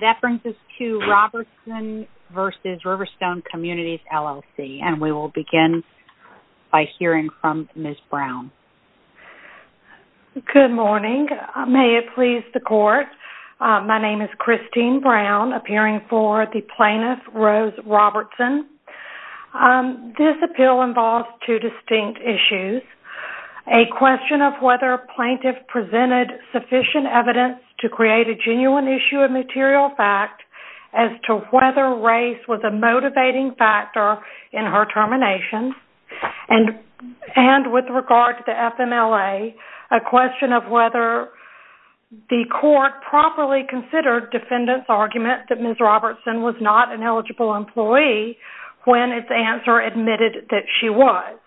That brings us to Robertson v. Riverstone Communities, LLC. And we will begin by hearing from Ms. Brown. Good morning. May it please the court, my name is Christine Brown, appearing for the Plaintiff, Rose Robertson. This appeal involves two distinct issues. A question of whether a plaintiff presented sufficient evidence to create a genuine issue of material fact as to whether race was a motivating factor in her termination. And with regard to the FMLA, a question of whether the court properly considered defendants' argument that Ms. Robertson was not an eligible employee when its answer admitted that she was.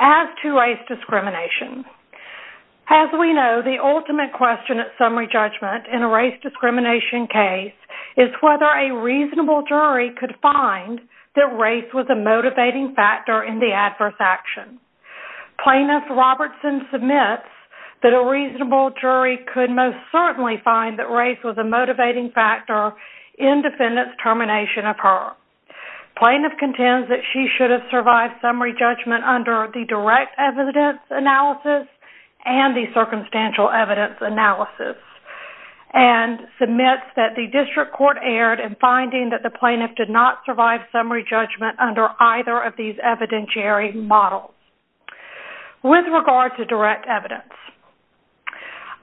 As to race discrimination, As we know, the ultimate question at summary judgment in a race discrimination case is whether a reasonable jury could find that race was a motivating factor in the adverse action. Plaintiff Robertson submits that a reasonable jury could most certainly find that race was a motivating factor in defendants' termination of her. Plaintiff contends that she should have survived summary judgment under the direct evidence analysis and the circumstantial evidence analysis. And submits that the district court erred in finding that the plaintiff did not survive summary judgment under either of these evidentiary models. With regard to direct evidence,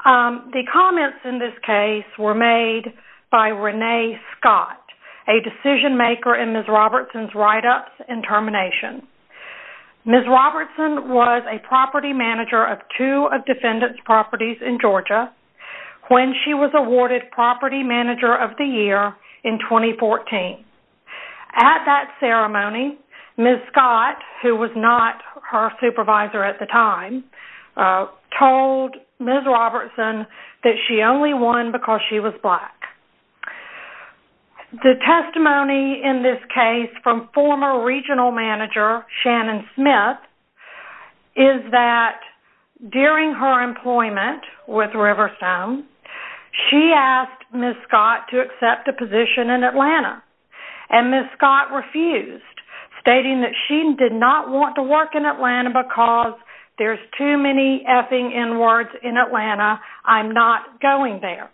the comments in this case were made by Renee Scott, a decision maker in Ms. Robertson's write-ups and termination. Ms. Robertson was a property manager of two of defendants' properties in Georgia when she was awarded property manager of the year in 2014. At that ceremony, Ms. Scott, who was not her supervisor at the time, told Ms. Robertson that she only won because she was black. The testimony in this case from former regional manager Shannon Smith is that during her employment with Riverstone, she asked Ms. Scott to accept a position in Atlanta. And Ms. Scott refused, stating that she did not want to work in Atlanta because there's too many F-ing N-words in Atlanta, I'm not going there.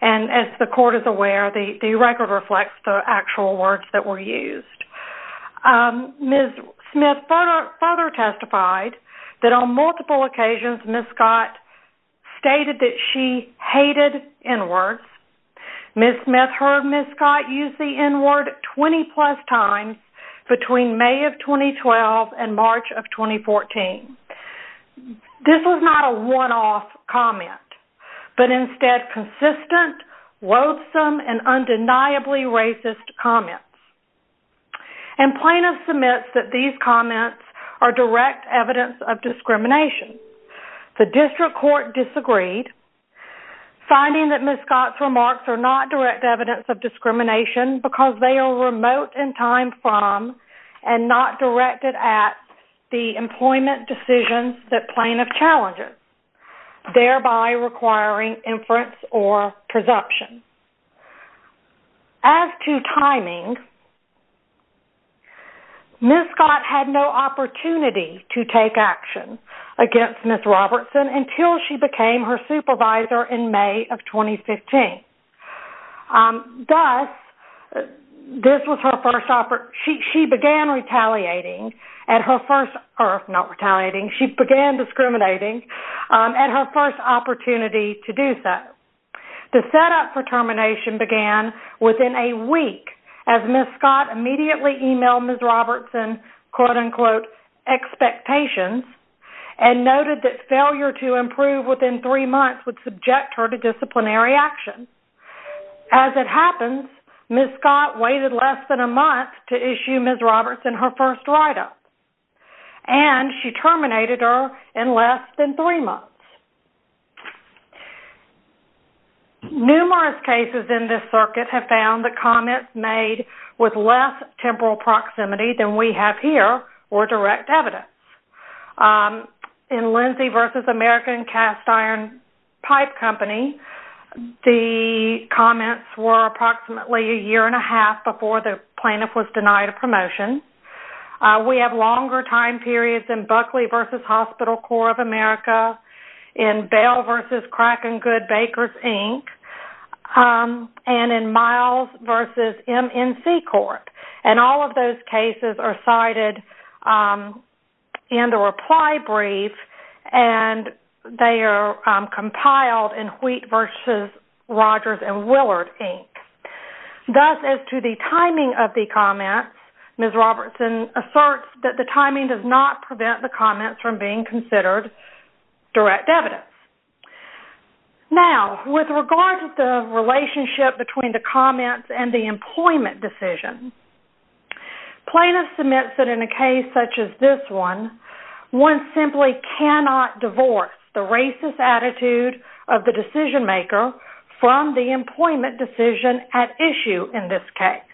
And as the court is aware, the record reflects the actual words that were used. Ms. Smith further testified that on multiple occasions, Ms. Scott stated that she hated N-words. Ms. Smith heard Ms. Scott use the N-word 20-plus times between May of 2012 and March of 2014. This was not a one-off comment, but instead consistent, loathsome, and undeniably racist comments. And plaintiff submits that these comments are direct evidence of discrimination. The district court disagreed, finding that Ms. Scott's remarks are not direct evidence of discrimination because they are remote in time from and not directed at the employment decisions that plaintiff challenges, thereby requiring inference or presumption. As to timing, Ms. Scott had no opportunity to take action against Ms. Robertson until she became her supervisor in May of 2015. Thus, this was her first... She began retaliating at her first... Not retaliating, she began discriminating at her first opportunity to do so. The setup for termination began within a week as Ms. Scott immediately emailed Ms. Robertson, quote-unquote, expectations and noted that failure to improve within three months would subject her to disciplinary action. As it happens, Ms. Scott waited less than a month to issue Ms. Robertson her first write-up. And she terminated her in less than three months. Numerous cases in this circuit have found that comments made with less temporal proximity than we have here were direct evidence. In Lindsay v. American Cast Iron Pipe Company, the comments were approximately a year and a half before the plaintiff was denied a promotion. We have longer time periods in Buckley v. Hospital Corps of America, in Bell v. Crack and Good Bakers, Inc., and in Miles v. MNC Corp. And all of those cases are cited in the reply brief and they are compiled in Wheat v. Rogers and Willard, Inc. Thus, as to the timing of the comments, Ms. Robertson asserts that the timing does not prevent the comments from being considered direct evidence. Now, with regard to the relationship between the comments and the employment decision, plaintiff submits that in a case such as this one, one simply cannot divorce the racist attitude of the decision-maker from the employment decision at issue in this case.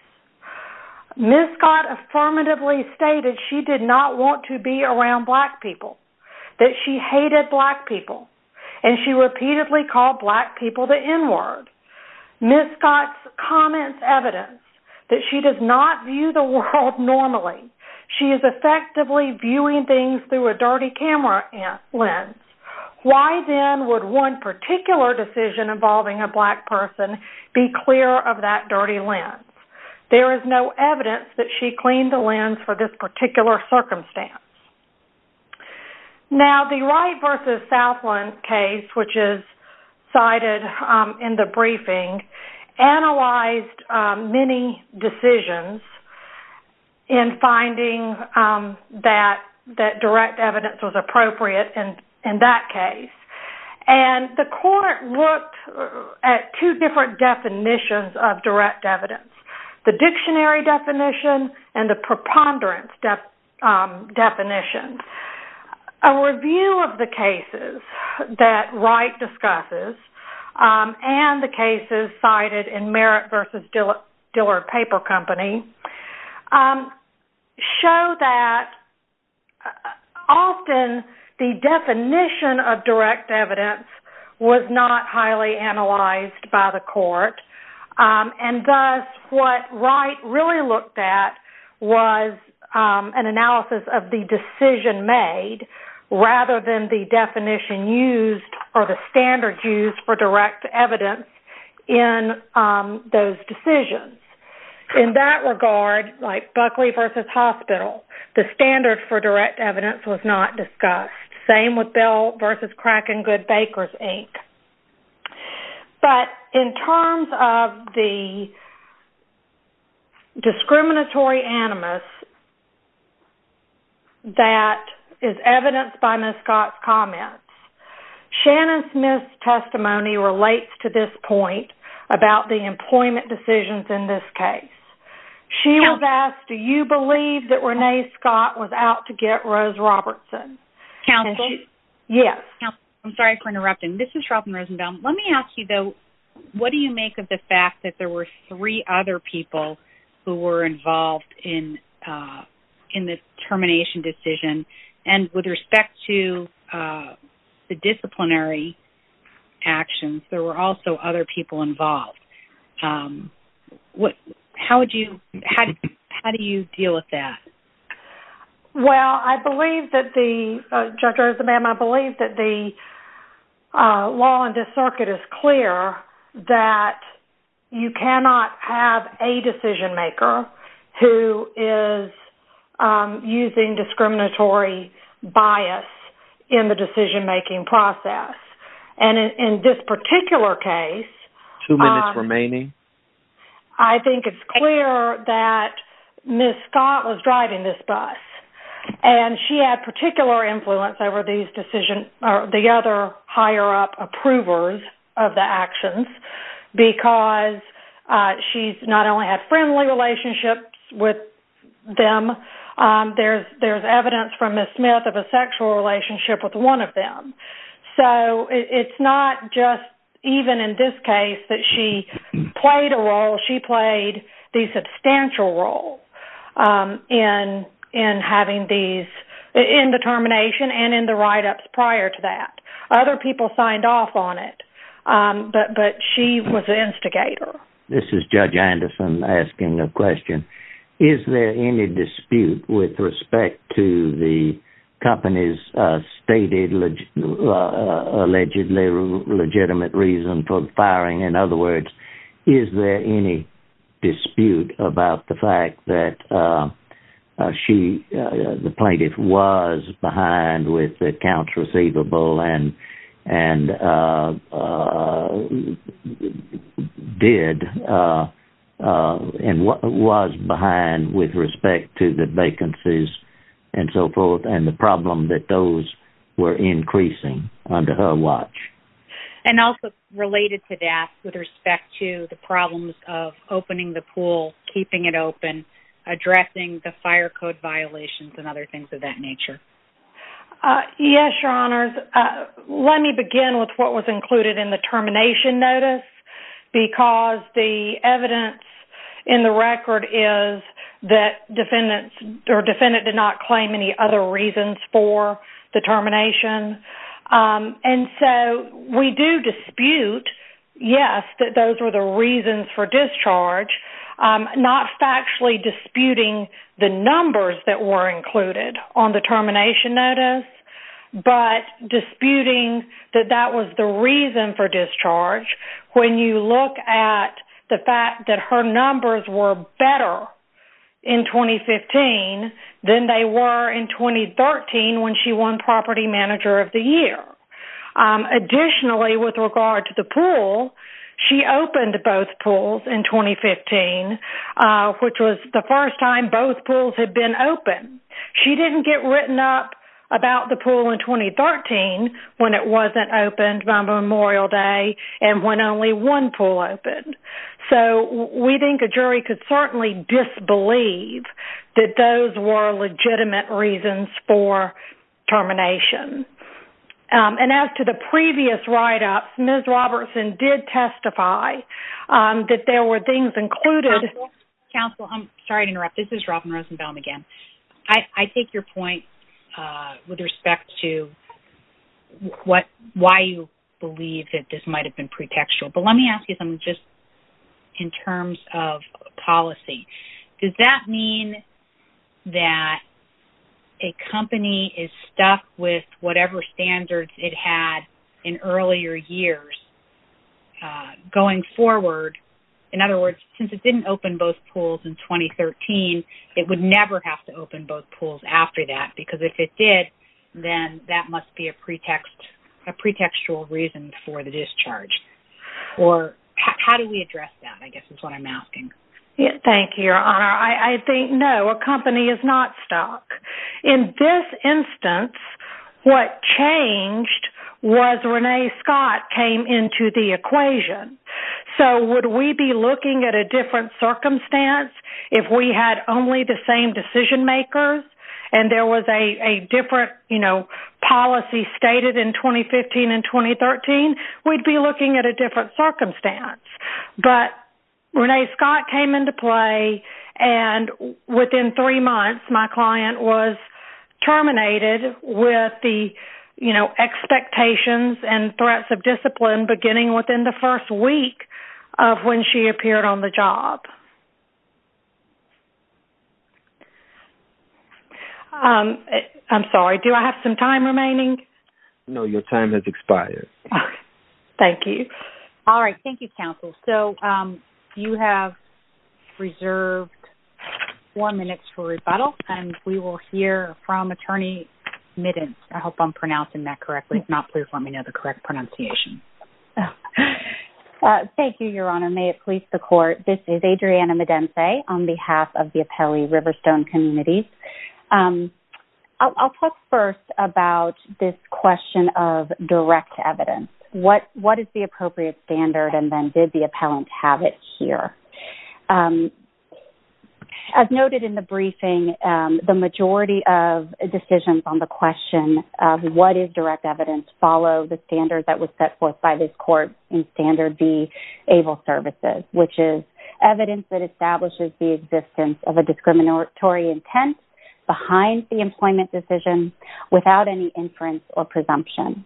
Ms. Scott affirmatively stated she did not want to be around Black people, that she hated Black people, and she repeatedly called Black people the N-word. Ms. Scott's comments evidence that she does not view the world normally. She is effectively viewing things through a dirty camera lens. Why then would one particular decision involving a Black person be clear of that dirty lens? There is no evidence that she cleaned the lens for this particular circumstance. Now, the Wright v. Southland case, which is cited in the briefing, analyzed many decisions in finding that direct evidence was appropriate in that case. And the court looked at two different definitions of direct evidence, the dictionary definition and the preponderance definition. A review of the cases that Wright discusses and the cases cited in Merritt v. Dillard Paper Company show that often the definition of direct evidence was not highly analyzed by the court. And thus, what Wright really looked at was an analysis of the decision made rather than the definition used or the standards used for direct evidence in those decisions. In that regard, like Buckley v. Hospital, the standard for direct evidence was not discussed. Same with Bell v. Crack and Good Bakers, Inc. But in terms of the discriminatory animus that is evidenced by Ms. Scott's comments, Shannon Smith's testimony relates to this point about the employment decisions in this case. She was asked, do you believe that Renee Scott was out to get Rose Robertson? Counsel? Yes. I'm sorry for interrupting. This is Charlton Rosenbaum. Let me ask you, though, what do you make of the fact that there were three other people who were involved in the termination decision? And with respect to the disciplinary actions, there were also other people involved. How do you deal with that? Well, Judge Rosenbaum, I believe that the law in this circuit is clear that you cannot have a decision-maker who is using discriminatory bias in the decision-making process. And in this particular case… Two minutes remaining. I think it's clear that Ms. Scott was driving this bus, and she had particular influence over the other higher-up approvers of the actions because she's not only had friendly relationships with them, there's evidence from Ms. Smith of a sexual relationship with one of them. So it's not just even in this case that she played a role. She played the substantial role in having these… in the termination and in the write-ups prior to that. Other people signed off on it, but she was the instigator. This is Judge Anderson asking a question. Is there any dispute with respect to the company's stated allegedly legitimate reason for the firing? In other words, is there any dispute about the fact that she, the plaintiff, was behind with accounts receivable and did and was behind with respect to the vacancies and so forth and the problem that those were increasing under her watch? And also related to that, with respect to the problems of opening the pool, keeping it open, addressing the fire code violations and other things of that nature. Yes, Your Honors. Let me begin with what was included in the termination notice because the evidence in the record is that defendants… or defendant did not claim any other reasons for the termination. And so we do dispute, yes, that those were the reasons for discharge, not factually disputing the numbers that were included on the termination notice, but disputing that that was the reason for discharge when you look at the fact that her when she won property manager of the year. Additionally, with regard to the pool, she opened both pools in 2015, which was the first time both pools had been open. She didn't get written up about the pool in 2013 when it wasn't opened by Memorial Day and when only one pool opened. So we think a jury could certainly disbelieve that those were legitimate reasons for termination. And as to the previous write-ups, Ms. Robertson did testify that there were things included… Counsel, I'm sorry to interrupt. This is Robin Rosenbaum again. I take your point with respect to why you believe that this might have been pretextual. But let me just ask you something just in terms of policy. Does that mean that a company is stuck with whatever standards it had in earlier years going forward? In other words, since it didn't open both pools in 2013, it would never have to open both pools after that, because if it did, then that must be a pretextual reason for the discharge. Or how do we address that, I guess, is what I'm asking. Thank you, Your Honor. I think, no, a company is not stuck. In this instance, what changed was Renee Scott came into the equation. So would we be looking at a different policy stated in 2015 and 2013? We'd be looking at a different circumstance. But Renee Scott came into play, and within three months, my client was terminated with the expectations and threats of discipline beginning within the first week of when she appeared on the court. Do I have some time remaining? No, your time has expired. Thank you. All right. Thank you, counsel. So you have reserved four minutes for rebuttal, and we will hear from attorney Midden. I hope I'm pronouncing that correctly. If not, please let me know the correct pronunciation. Thank you, Your Honor. May it please the court. This is Adriana Medense on behalf of the Apelli Riverstone Community. I'll talk first about this question of direct evidence. What is the appropriate standard, and then did the appellant have it here? As noted in the briefing, the majority of decisions on the question of what is direct evidence follow the standard that was set forth by this court in Standard B, ABLE Services, which is evidence that establishes the existence of a discriminatory intent behind the employment decision without any inference or presumption.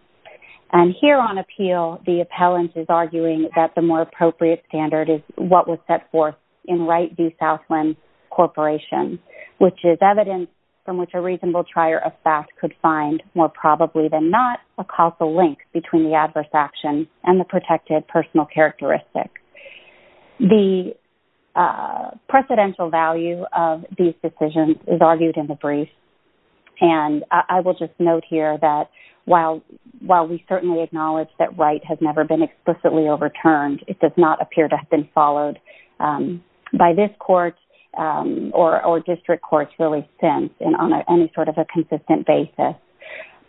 And here on appeal, the appellant is arguing that the more appropriate standard is what was set forth in Wright v. Southland Corporation, which is evidence from which a reasonable trier of theft could find, more probably than not, a causal link between the adverse action and the protected personal characteristic. The precedential value of these decisions is argued in the brief, and I will just note here that while we certainly acknowledge that Wright has never been explicitly overturned, it does not appear to have been followed by this court or district courts really since, and on any sort of a consistent basis.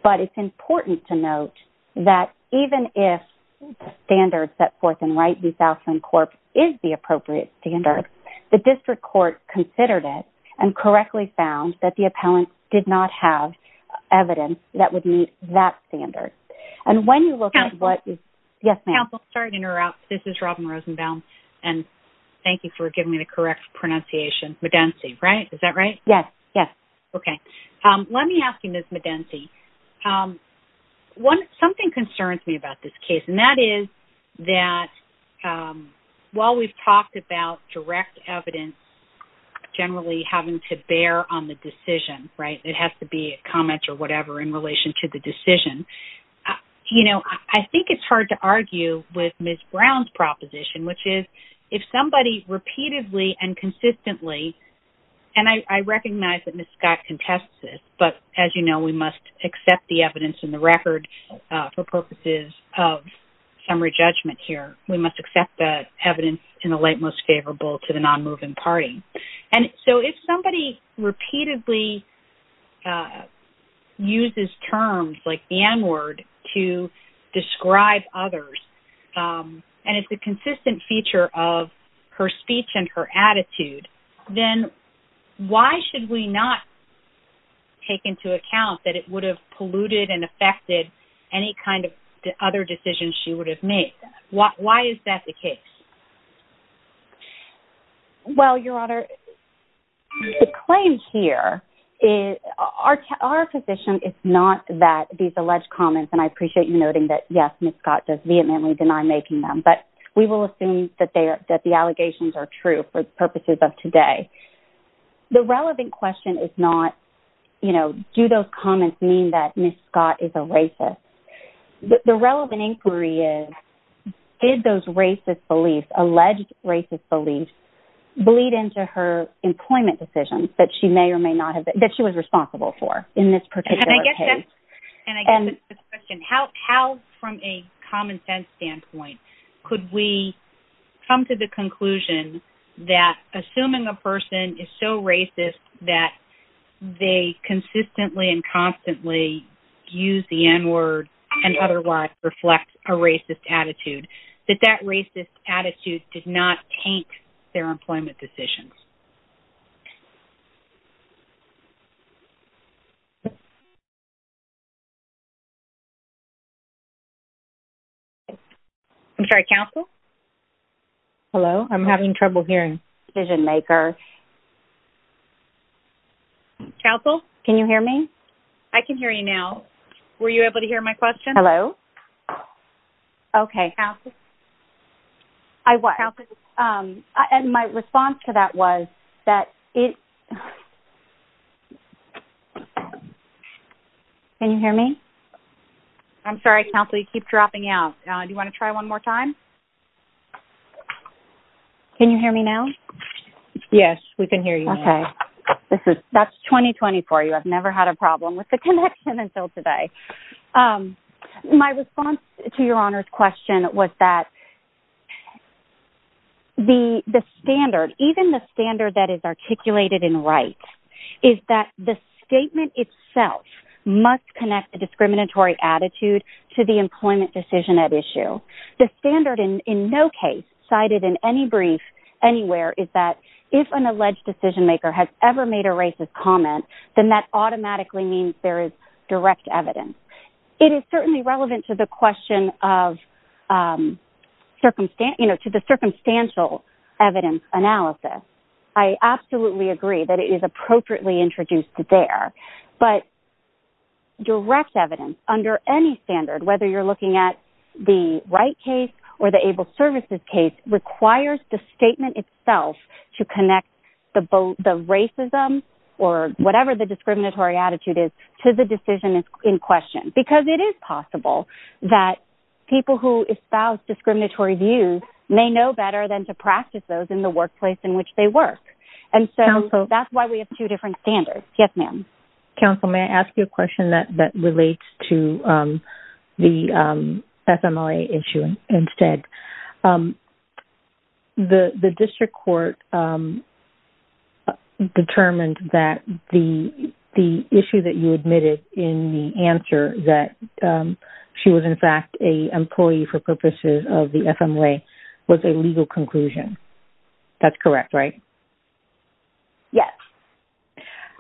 But it's important to note that even if the standard set forth in Wright v. Southland Corp. is the appropriate standard, the district court considered it and correctly found that the appellant did not have evidence that would meet that standard. And when you look at what... Yes, ma'am? Counsel, sorry to interrupt. This is Robin Rosenbaum, and thank you for giving me the correct pronunciation. Madensi, right? Is that right? Yes. Yes. Let me ask you this, Madensi. Something concerns me about this case, and that is that while we've talked about direct evidence generally having to bear on the decision, it has to be a comment or whatever in relation to the decision, I think it's hard to argue with Ms. Brown's proposition, which is if somebody repeatedly and consistently... And I recognize that Ms. Scott contests this, but as you know, we must accept the evidence in the record for purposes of summary judgment here. We must accept the evidence in the light most favorable to the non-moving party. And so if somebody repeatedly uses terms like the N-word to describe others, and it's a consistent feature of her speech and her attitude, then why should we not take into account that it would have polluted and affected any kind of other decisions she would have made? Why is that the case? Well, Your Honor, the claim here is... Our position is not that these alleged comments, and I appreciate you noting that, yes, Ms. Scott does vehemently deny making them, but we will assume that the allegations are true for the purposes of today. The relevant question is not, you know, do those comments mean that Ms. Scott is a racist? The relevant inquiry is, did those racist beliefs, alleged racist beliefs, bleed into her employment decisions that she may or may not have... That she was responsible for in this particular case? And I guess that's the question. How, from a common sense standpoint, could we come to the conclusion that assuming a person is so racist that they consistently and constantly use the N-word and otherwise reflect a racist attitude, that that racist attitude did not affect their employment decisions? I'm sorry. Counsel? Hello? I'm having trouble hearing. Decision-maker. Counsel? Can you hear me? I can hear you now. Were you able to hear my question? Hello? Okay. Counsel? I was. And my response to that was that it... Can you hear me? I'm sorry, Counsel. You keep dropping out. Do you want to try one more time? Can you hear me now? Yes, we can hear you now. Okay. That's 20-20 for you. I've never had a problem with the connection until today. Okay. My response to Your Honor's question was that the standard, even the standard that is articulated in Wright, is that the statement itself must connect the discriminatory attitude to the employment decision at issue. The standard in no case cited in any brief anywhere is that if an alleged decision-maker has ever made a racist comment, then that automatically means there is direct evidence. It is certainly relevant to the question of, you know, to the circumstantial evidence analysis. I absolutely agree that it is appropriately introduced there. But direct evidence under any standard, whether you're looking at the Wright case or the Able Services case, requires the statement itself to connect the racism or whatever the discriminatory attitude is to the decision in question. Because it is possible that people who espouse discriminatory views may know better than to practice those in the workplace in which they work. And so that's why we have two different standards. Yes, ma'am. Counsel, may I ask you a question that relates to the FMLA issue instead? Yes. The district court determined that the issue that you admitted in the answer that she was, in fact, an employee for purposes of the FMLA was a legal conclusion. That's correct, right? Yes.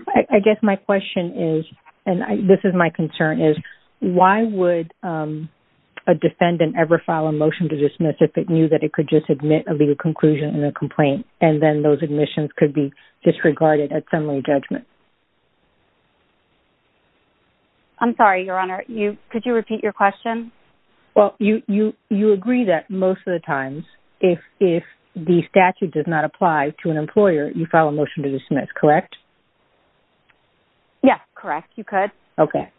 I guess my question is, and this is my concern, is why would a defendant ever file a motion to dismiss if it knew that it could just admit a legal conclusion in a complaint, and then those admissions could be disregarded at summary judgment? I'm sorry, Your Honor. Could you repeat your question? Well, you agree that most of the times, if the statute does not apply to an employer, you file a motion to dismiss, correct? Yes, correct. You could. Okay.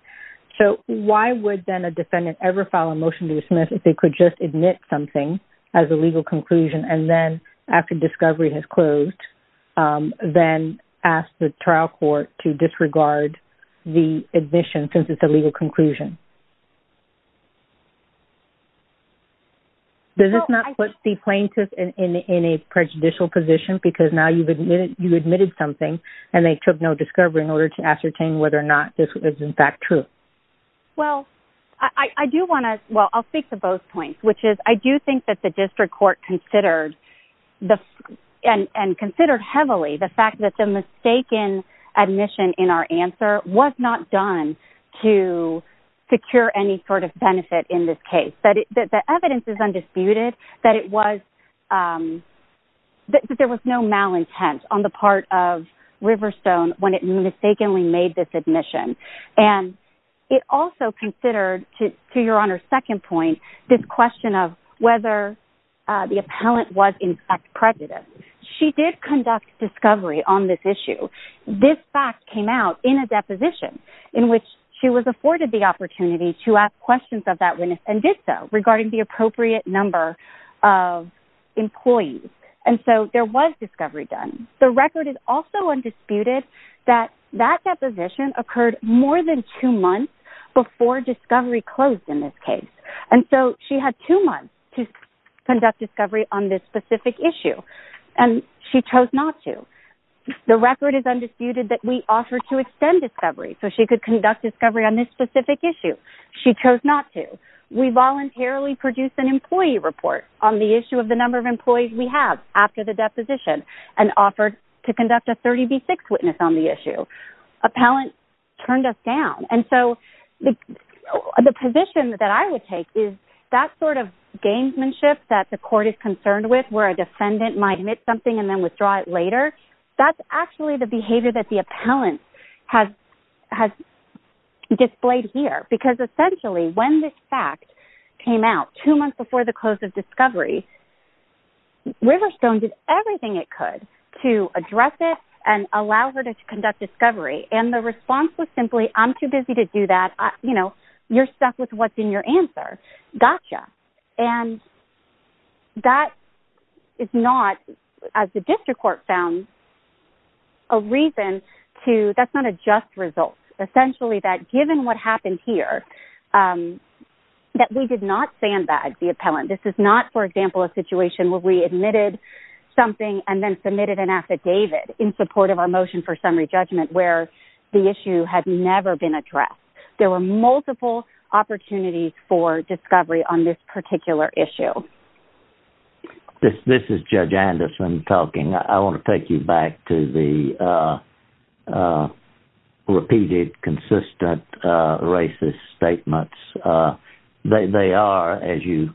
So why would then a defendant ever file a motion to dismiss if they could just admit something as a legal conclusion, and then after discovery has closed, then ask the trial court to disregard the admission since it's a legal conclusion? Does this not put the plaintiff in a prejudicial position because now you've admitted something, and they took no discovery in order to in fact true? Well, I do want to, well, I'll speak to both points, which is I do think that the district court considered and considered heavily the fact that the mistaken admission in our answer was not done to secure any sort of benefit in this case. The evidence is undisputed that it was, that there was no malintent on the part of Riverstone when it mistakenly made this and it also considered to your honor's second point, this question of whether the appellant was in fact prejudiced. She did conduct discovery on this issue. This fact came out in a deposition in which she was afforded the opportunity to ask questions of that witness and did so regarding the appropriate number of employees. And so there was discovery done. The record is also undisputed that that deposition occurred more than two months before discovery closed in this case. And so she had two months to conduct discovery on this specific issue and she chose not to. The record is undisputed that we offered to extend discovery so she could conduct discovery on this specific issue. She chose not to. We voluntarily produced an employee report on the issue of the issue. Appellant turned us down. And so the position that I would take is that sort of gamesmanship that the court is concerned with where a defendant might admit something and then withdraw it later. That's actually the behavior that the appellant has displayed here because essentially when this fact came out two months before the close of discovery, Riverstone did everything it could to address it and allow her to conduct discovery. And the response was simply, I'm too busy to do that. You're stuck with what's in your answer. Gotcha. And that is not, as the district court found, a reason to, that's not a just result. Essentially that given what happened here, that we did not sandbag the appellant. This is not, for example, a situation where we admitted something and then submitted an affidavit in support of our motion for summary judgment where the issue had never been addressed. There were multiple opportunities for discovery on this particular issue. This is Judge Anderson talking. I want to take you back to the repeated consistent racist statements. They are, as you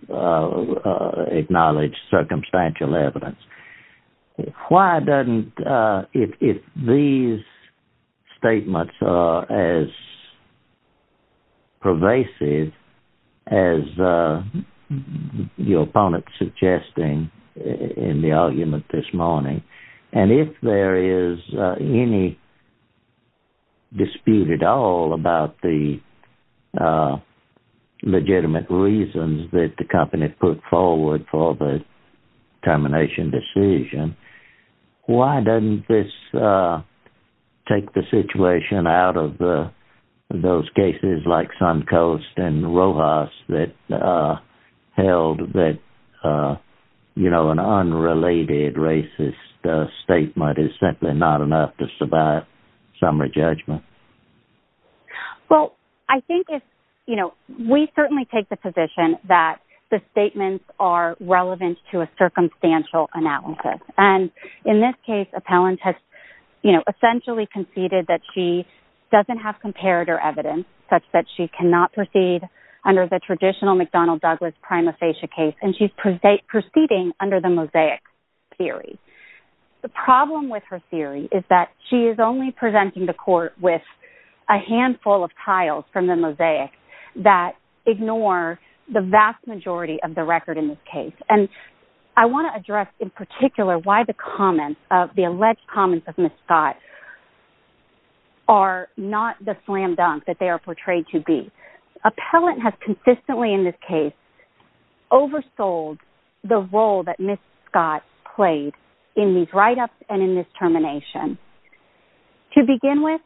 acknowledge, circumstantial evidence. Why doesn't, if these statements are as pervasive as your opponent suggesting in the argument this morning, and if there is any dispute at all about the legitimate reasons that the company put forward for the termination decision, why doesn't this you know, an unrelated racist statement is simply not enough to survive summary judgment? Well, I think if, you know, we certainly take the position that the statements are relevant to a circumstantial analysis. And in this case, appellant has, you know, essentially conceded that she doesn't have comparator evidence such that she cannot proceed under the traditional McDonnell Douglas prima facie case. And she's proceeding under the mosaic theory. The problem with her theory is that she is only presenting the court with a handful of tiles from the mosaic that ignore the vast majority of the record in this case. And I want to address in particular why the comments of the alleged comments of Ms. Scott are not the slam dunk that they are portrayed to be. Appellant has consistently in this case oversold the role that Ms. Scott played in these write-ups and in this termination. To begin with,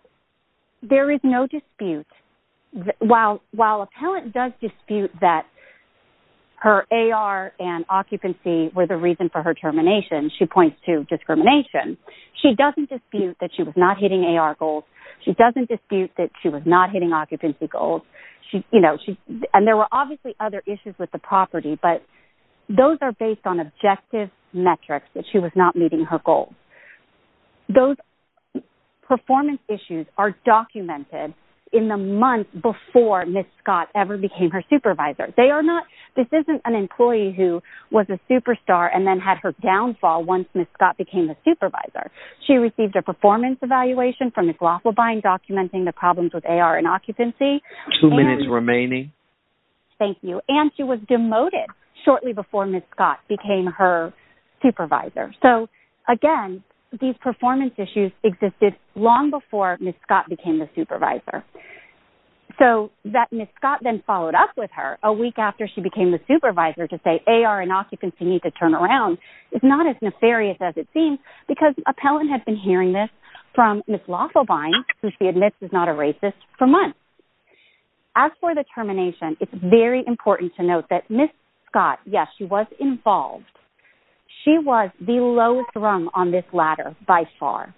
there is no dispute. While appellant does dispute that her AR and occupancy were the reason for her termination, she points to discrimination, she doesn't dispute that she was not hitting AR goals. She doesn't dispute that she was not hitting occupancy goals. And there were obviously other issues with the property, but those are based on objective metrics that she was not meeting her goals. Those performance issues are documented in the month before Ms. Scott ever became her supervisor. This isn't an employee who was a superstar and then had her downfall once Ms. Scott became a supervisor. She received a performance evaluation from Ms. Laughlibine documenting the problems with AR and occupancy. Two minutes remaining. Thank you. And she was demoted shortly before Ms. Scott became her supervisor. So again, these performance issues existed long before Ms. Scott became the supervisor. So that Ms. Scott then followed up with her a week after she became the supervisor to say AR and occupancy need to turn around is not as nefarious as it seems because appellant had been hearing this from Ms. Laughlibine, who she admits is not a racist, for months. As for the termination, it's very important to note that Ms. Scott, yes, she was involved. She was the lowest rung on this ladder by far.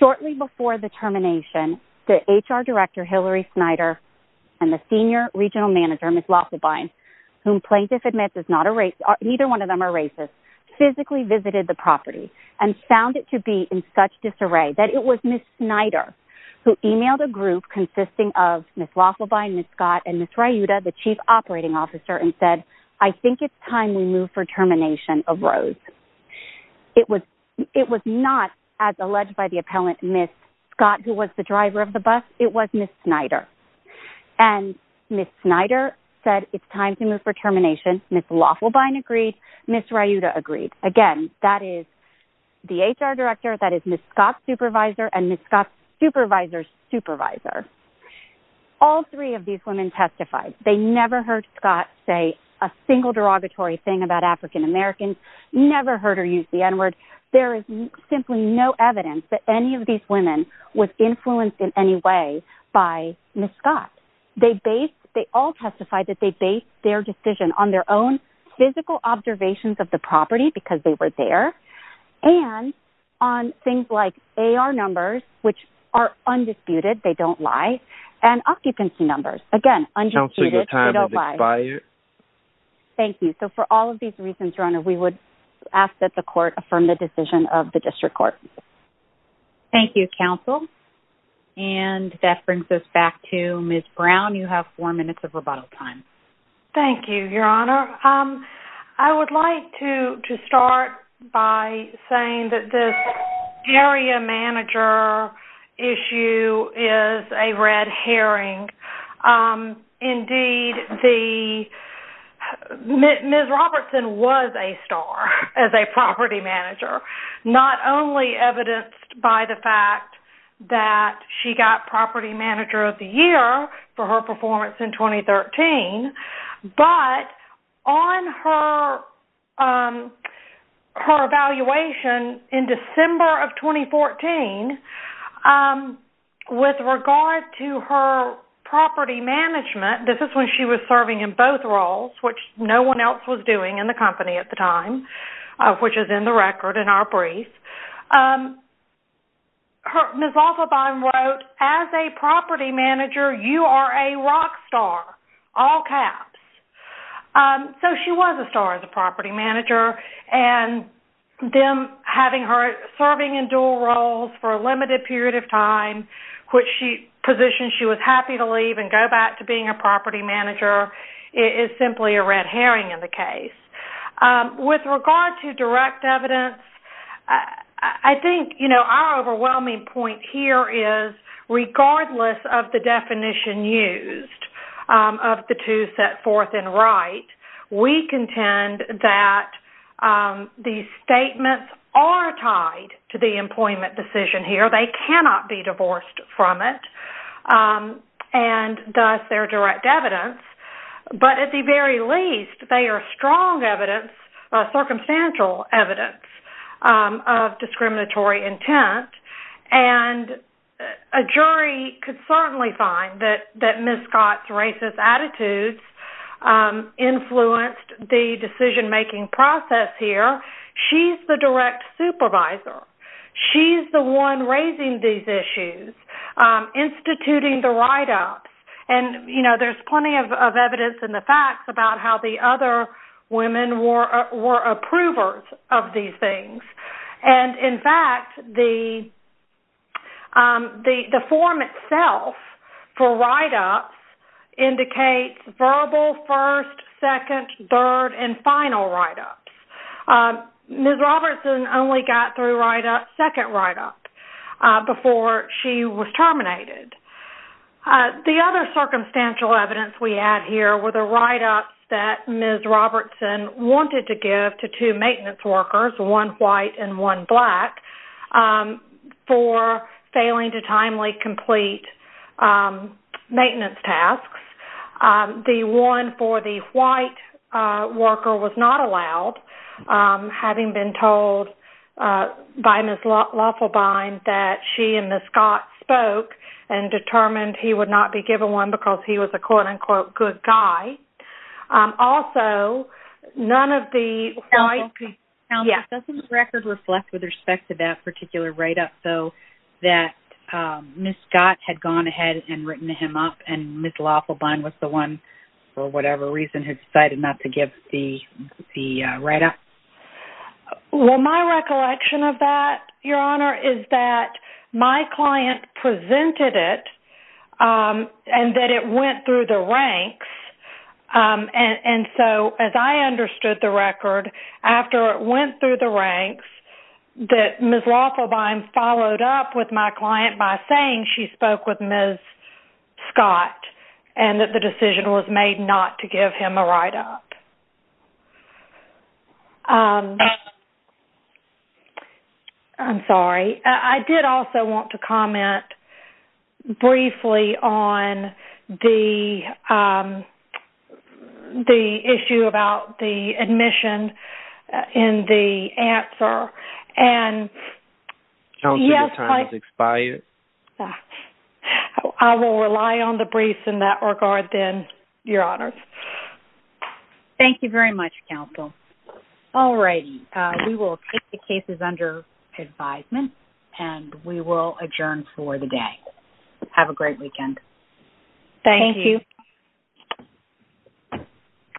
Shortly before the termination, the HR director, Hillary Snyder, and the senior regional manager, Ms. Laughlibine, whom plaintiff admits is not a race, neither one of them are racist, physically visited the property and found it to be in such disarray that it was Ms. Snyder who emailed a group consisting of Ms. Laughlibine, Ms. Scott, and Ms. Ryuda, the chief operating officer, and said, I think it's time we move for termination of Rose. It was not as alleged by the appellant, Ms. Scott, who was the driver of the bus, it was Ms. Snyder. Ms. Snyder said it's time to move for termination. Ms. Laughlibine agreed. Ms. Ryuda agreed. Again, that is the HR director, that is Ms. Scott's supervisor, and Ms. Scott's supervisor's supervisor. All three of these women testified. They never heard Scott say a single derogatory thing about African-Americans, never heard her use the N-word. There is simply no evidence that any of these women was influenced in any way by Ms. Scott. They all testified that they based their decision on their own physical observations of the property, because they were there, and on things like AR numbers, which are undisputed, they don't lie, and occupancy numbers. Again, undisputed, they don't lie. Thank you. For all of these reasons, Your Honor, we would ask that the court affirm the decision of the district court. Thank you, counsel. That brings us back to Ms. Brown. You have four minutes of rebuttal time. Thank you, Your Honor. I would like to start by saying that this area manager issue is a red herring. Indeed, Ms. Robertson was a star as a property manager, not only evidenced by the fact that she got property manager of the year for her performance in 2013, but on her evaluation in December of 2014, with regard to her property management, this is when she was serving in both roles, which no one else was doing in the company at the time, which is in the record in our brief. Ms. Offelbein wrote, as a property manager, you are a rock star, all caps. So she was a star as a property manager, and them having her serving in dual roles for a limited period of time, which she positioned she was happy to leave and go back to being a property manager, is simply a red herring in the direct evidence. I think our overwhelming point here is, regardless of the definition used of the two set forth in Wright, we contend that these statements are tied to the employment decision here. They cannot be divorced from it, and thus they are direct evidence. But at the very least, they are strong evidence, circumstantial evidence of discriminatory intent, and a jury could certainly find that Ms. Scott's racist attitudes influenced the decision-making process here. She's the direct supervisor. She's the one raising these issues, instituting the write-ups, and there's plenty of evidence in the facts about how the other women were approvers of these things. In fact, the form itself for write-ups indicates verbal first, second, third, and final write-ups. Ms. Robertson only got through second write-up before she was terminated. The other circumstantial evidence we have here were the write-ups that Ms. Robertson wanted to give to two maintenance workers, one white and one black, for failing to timely complete maintenance tasks. The one for the white worker was not by Ms. Laufelbein that she and Ms. Scott spoke and determined he would not be given one because he was a quote-unquote good guy. Also, none of the white... Counselor, doesn't the record reflect with respect to that particular write-up, though, that Ms. Scott had gone ahead and written him up and Ms. Laufelbein was the one, for whatever reason, who decided not to give the write-up? Well, my recollection of that, Your Honor, is that my client presented it and that it went through the ranks. And so, as I understood the record, after it went through the ranks, that Ms. Laufelbein followed up with my client by saying she spoke with Ms. Scott and that the decision was made not to give him a write-up. Um, I'm sorry. I did also want to comment briefly on the issue about the admission and the answer and... Counselor, your time has expired. I will rely on the briefs in that regard then, Your Honor. Thank you very much, Counsel. All righty. We will take the cases under advisement and we will adjourn for the day. Have a great weekend. Thank you.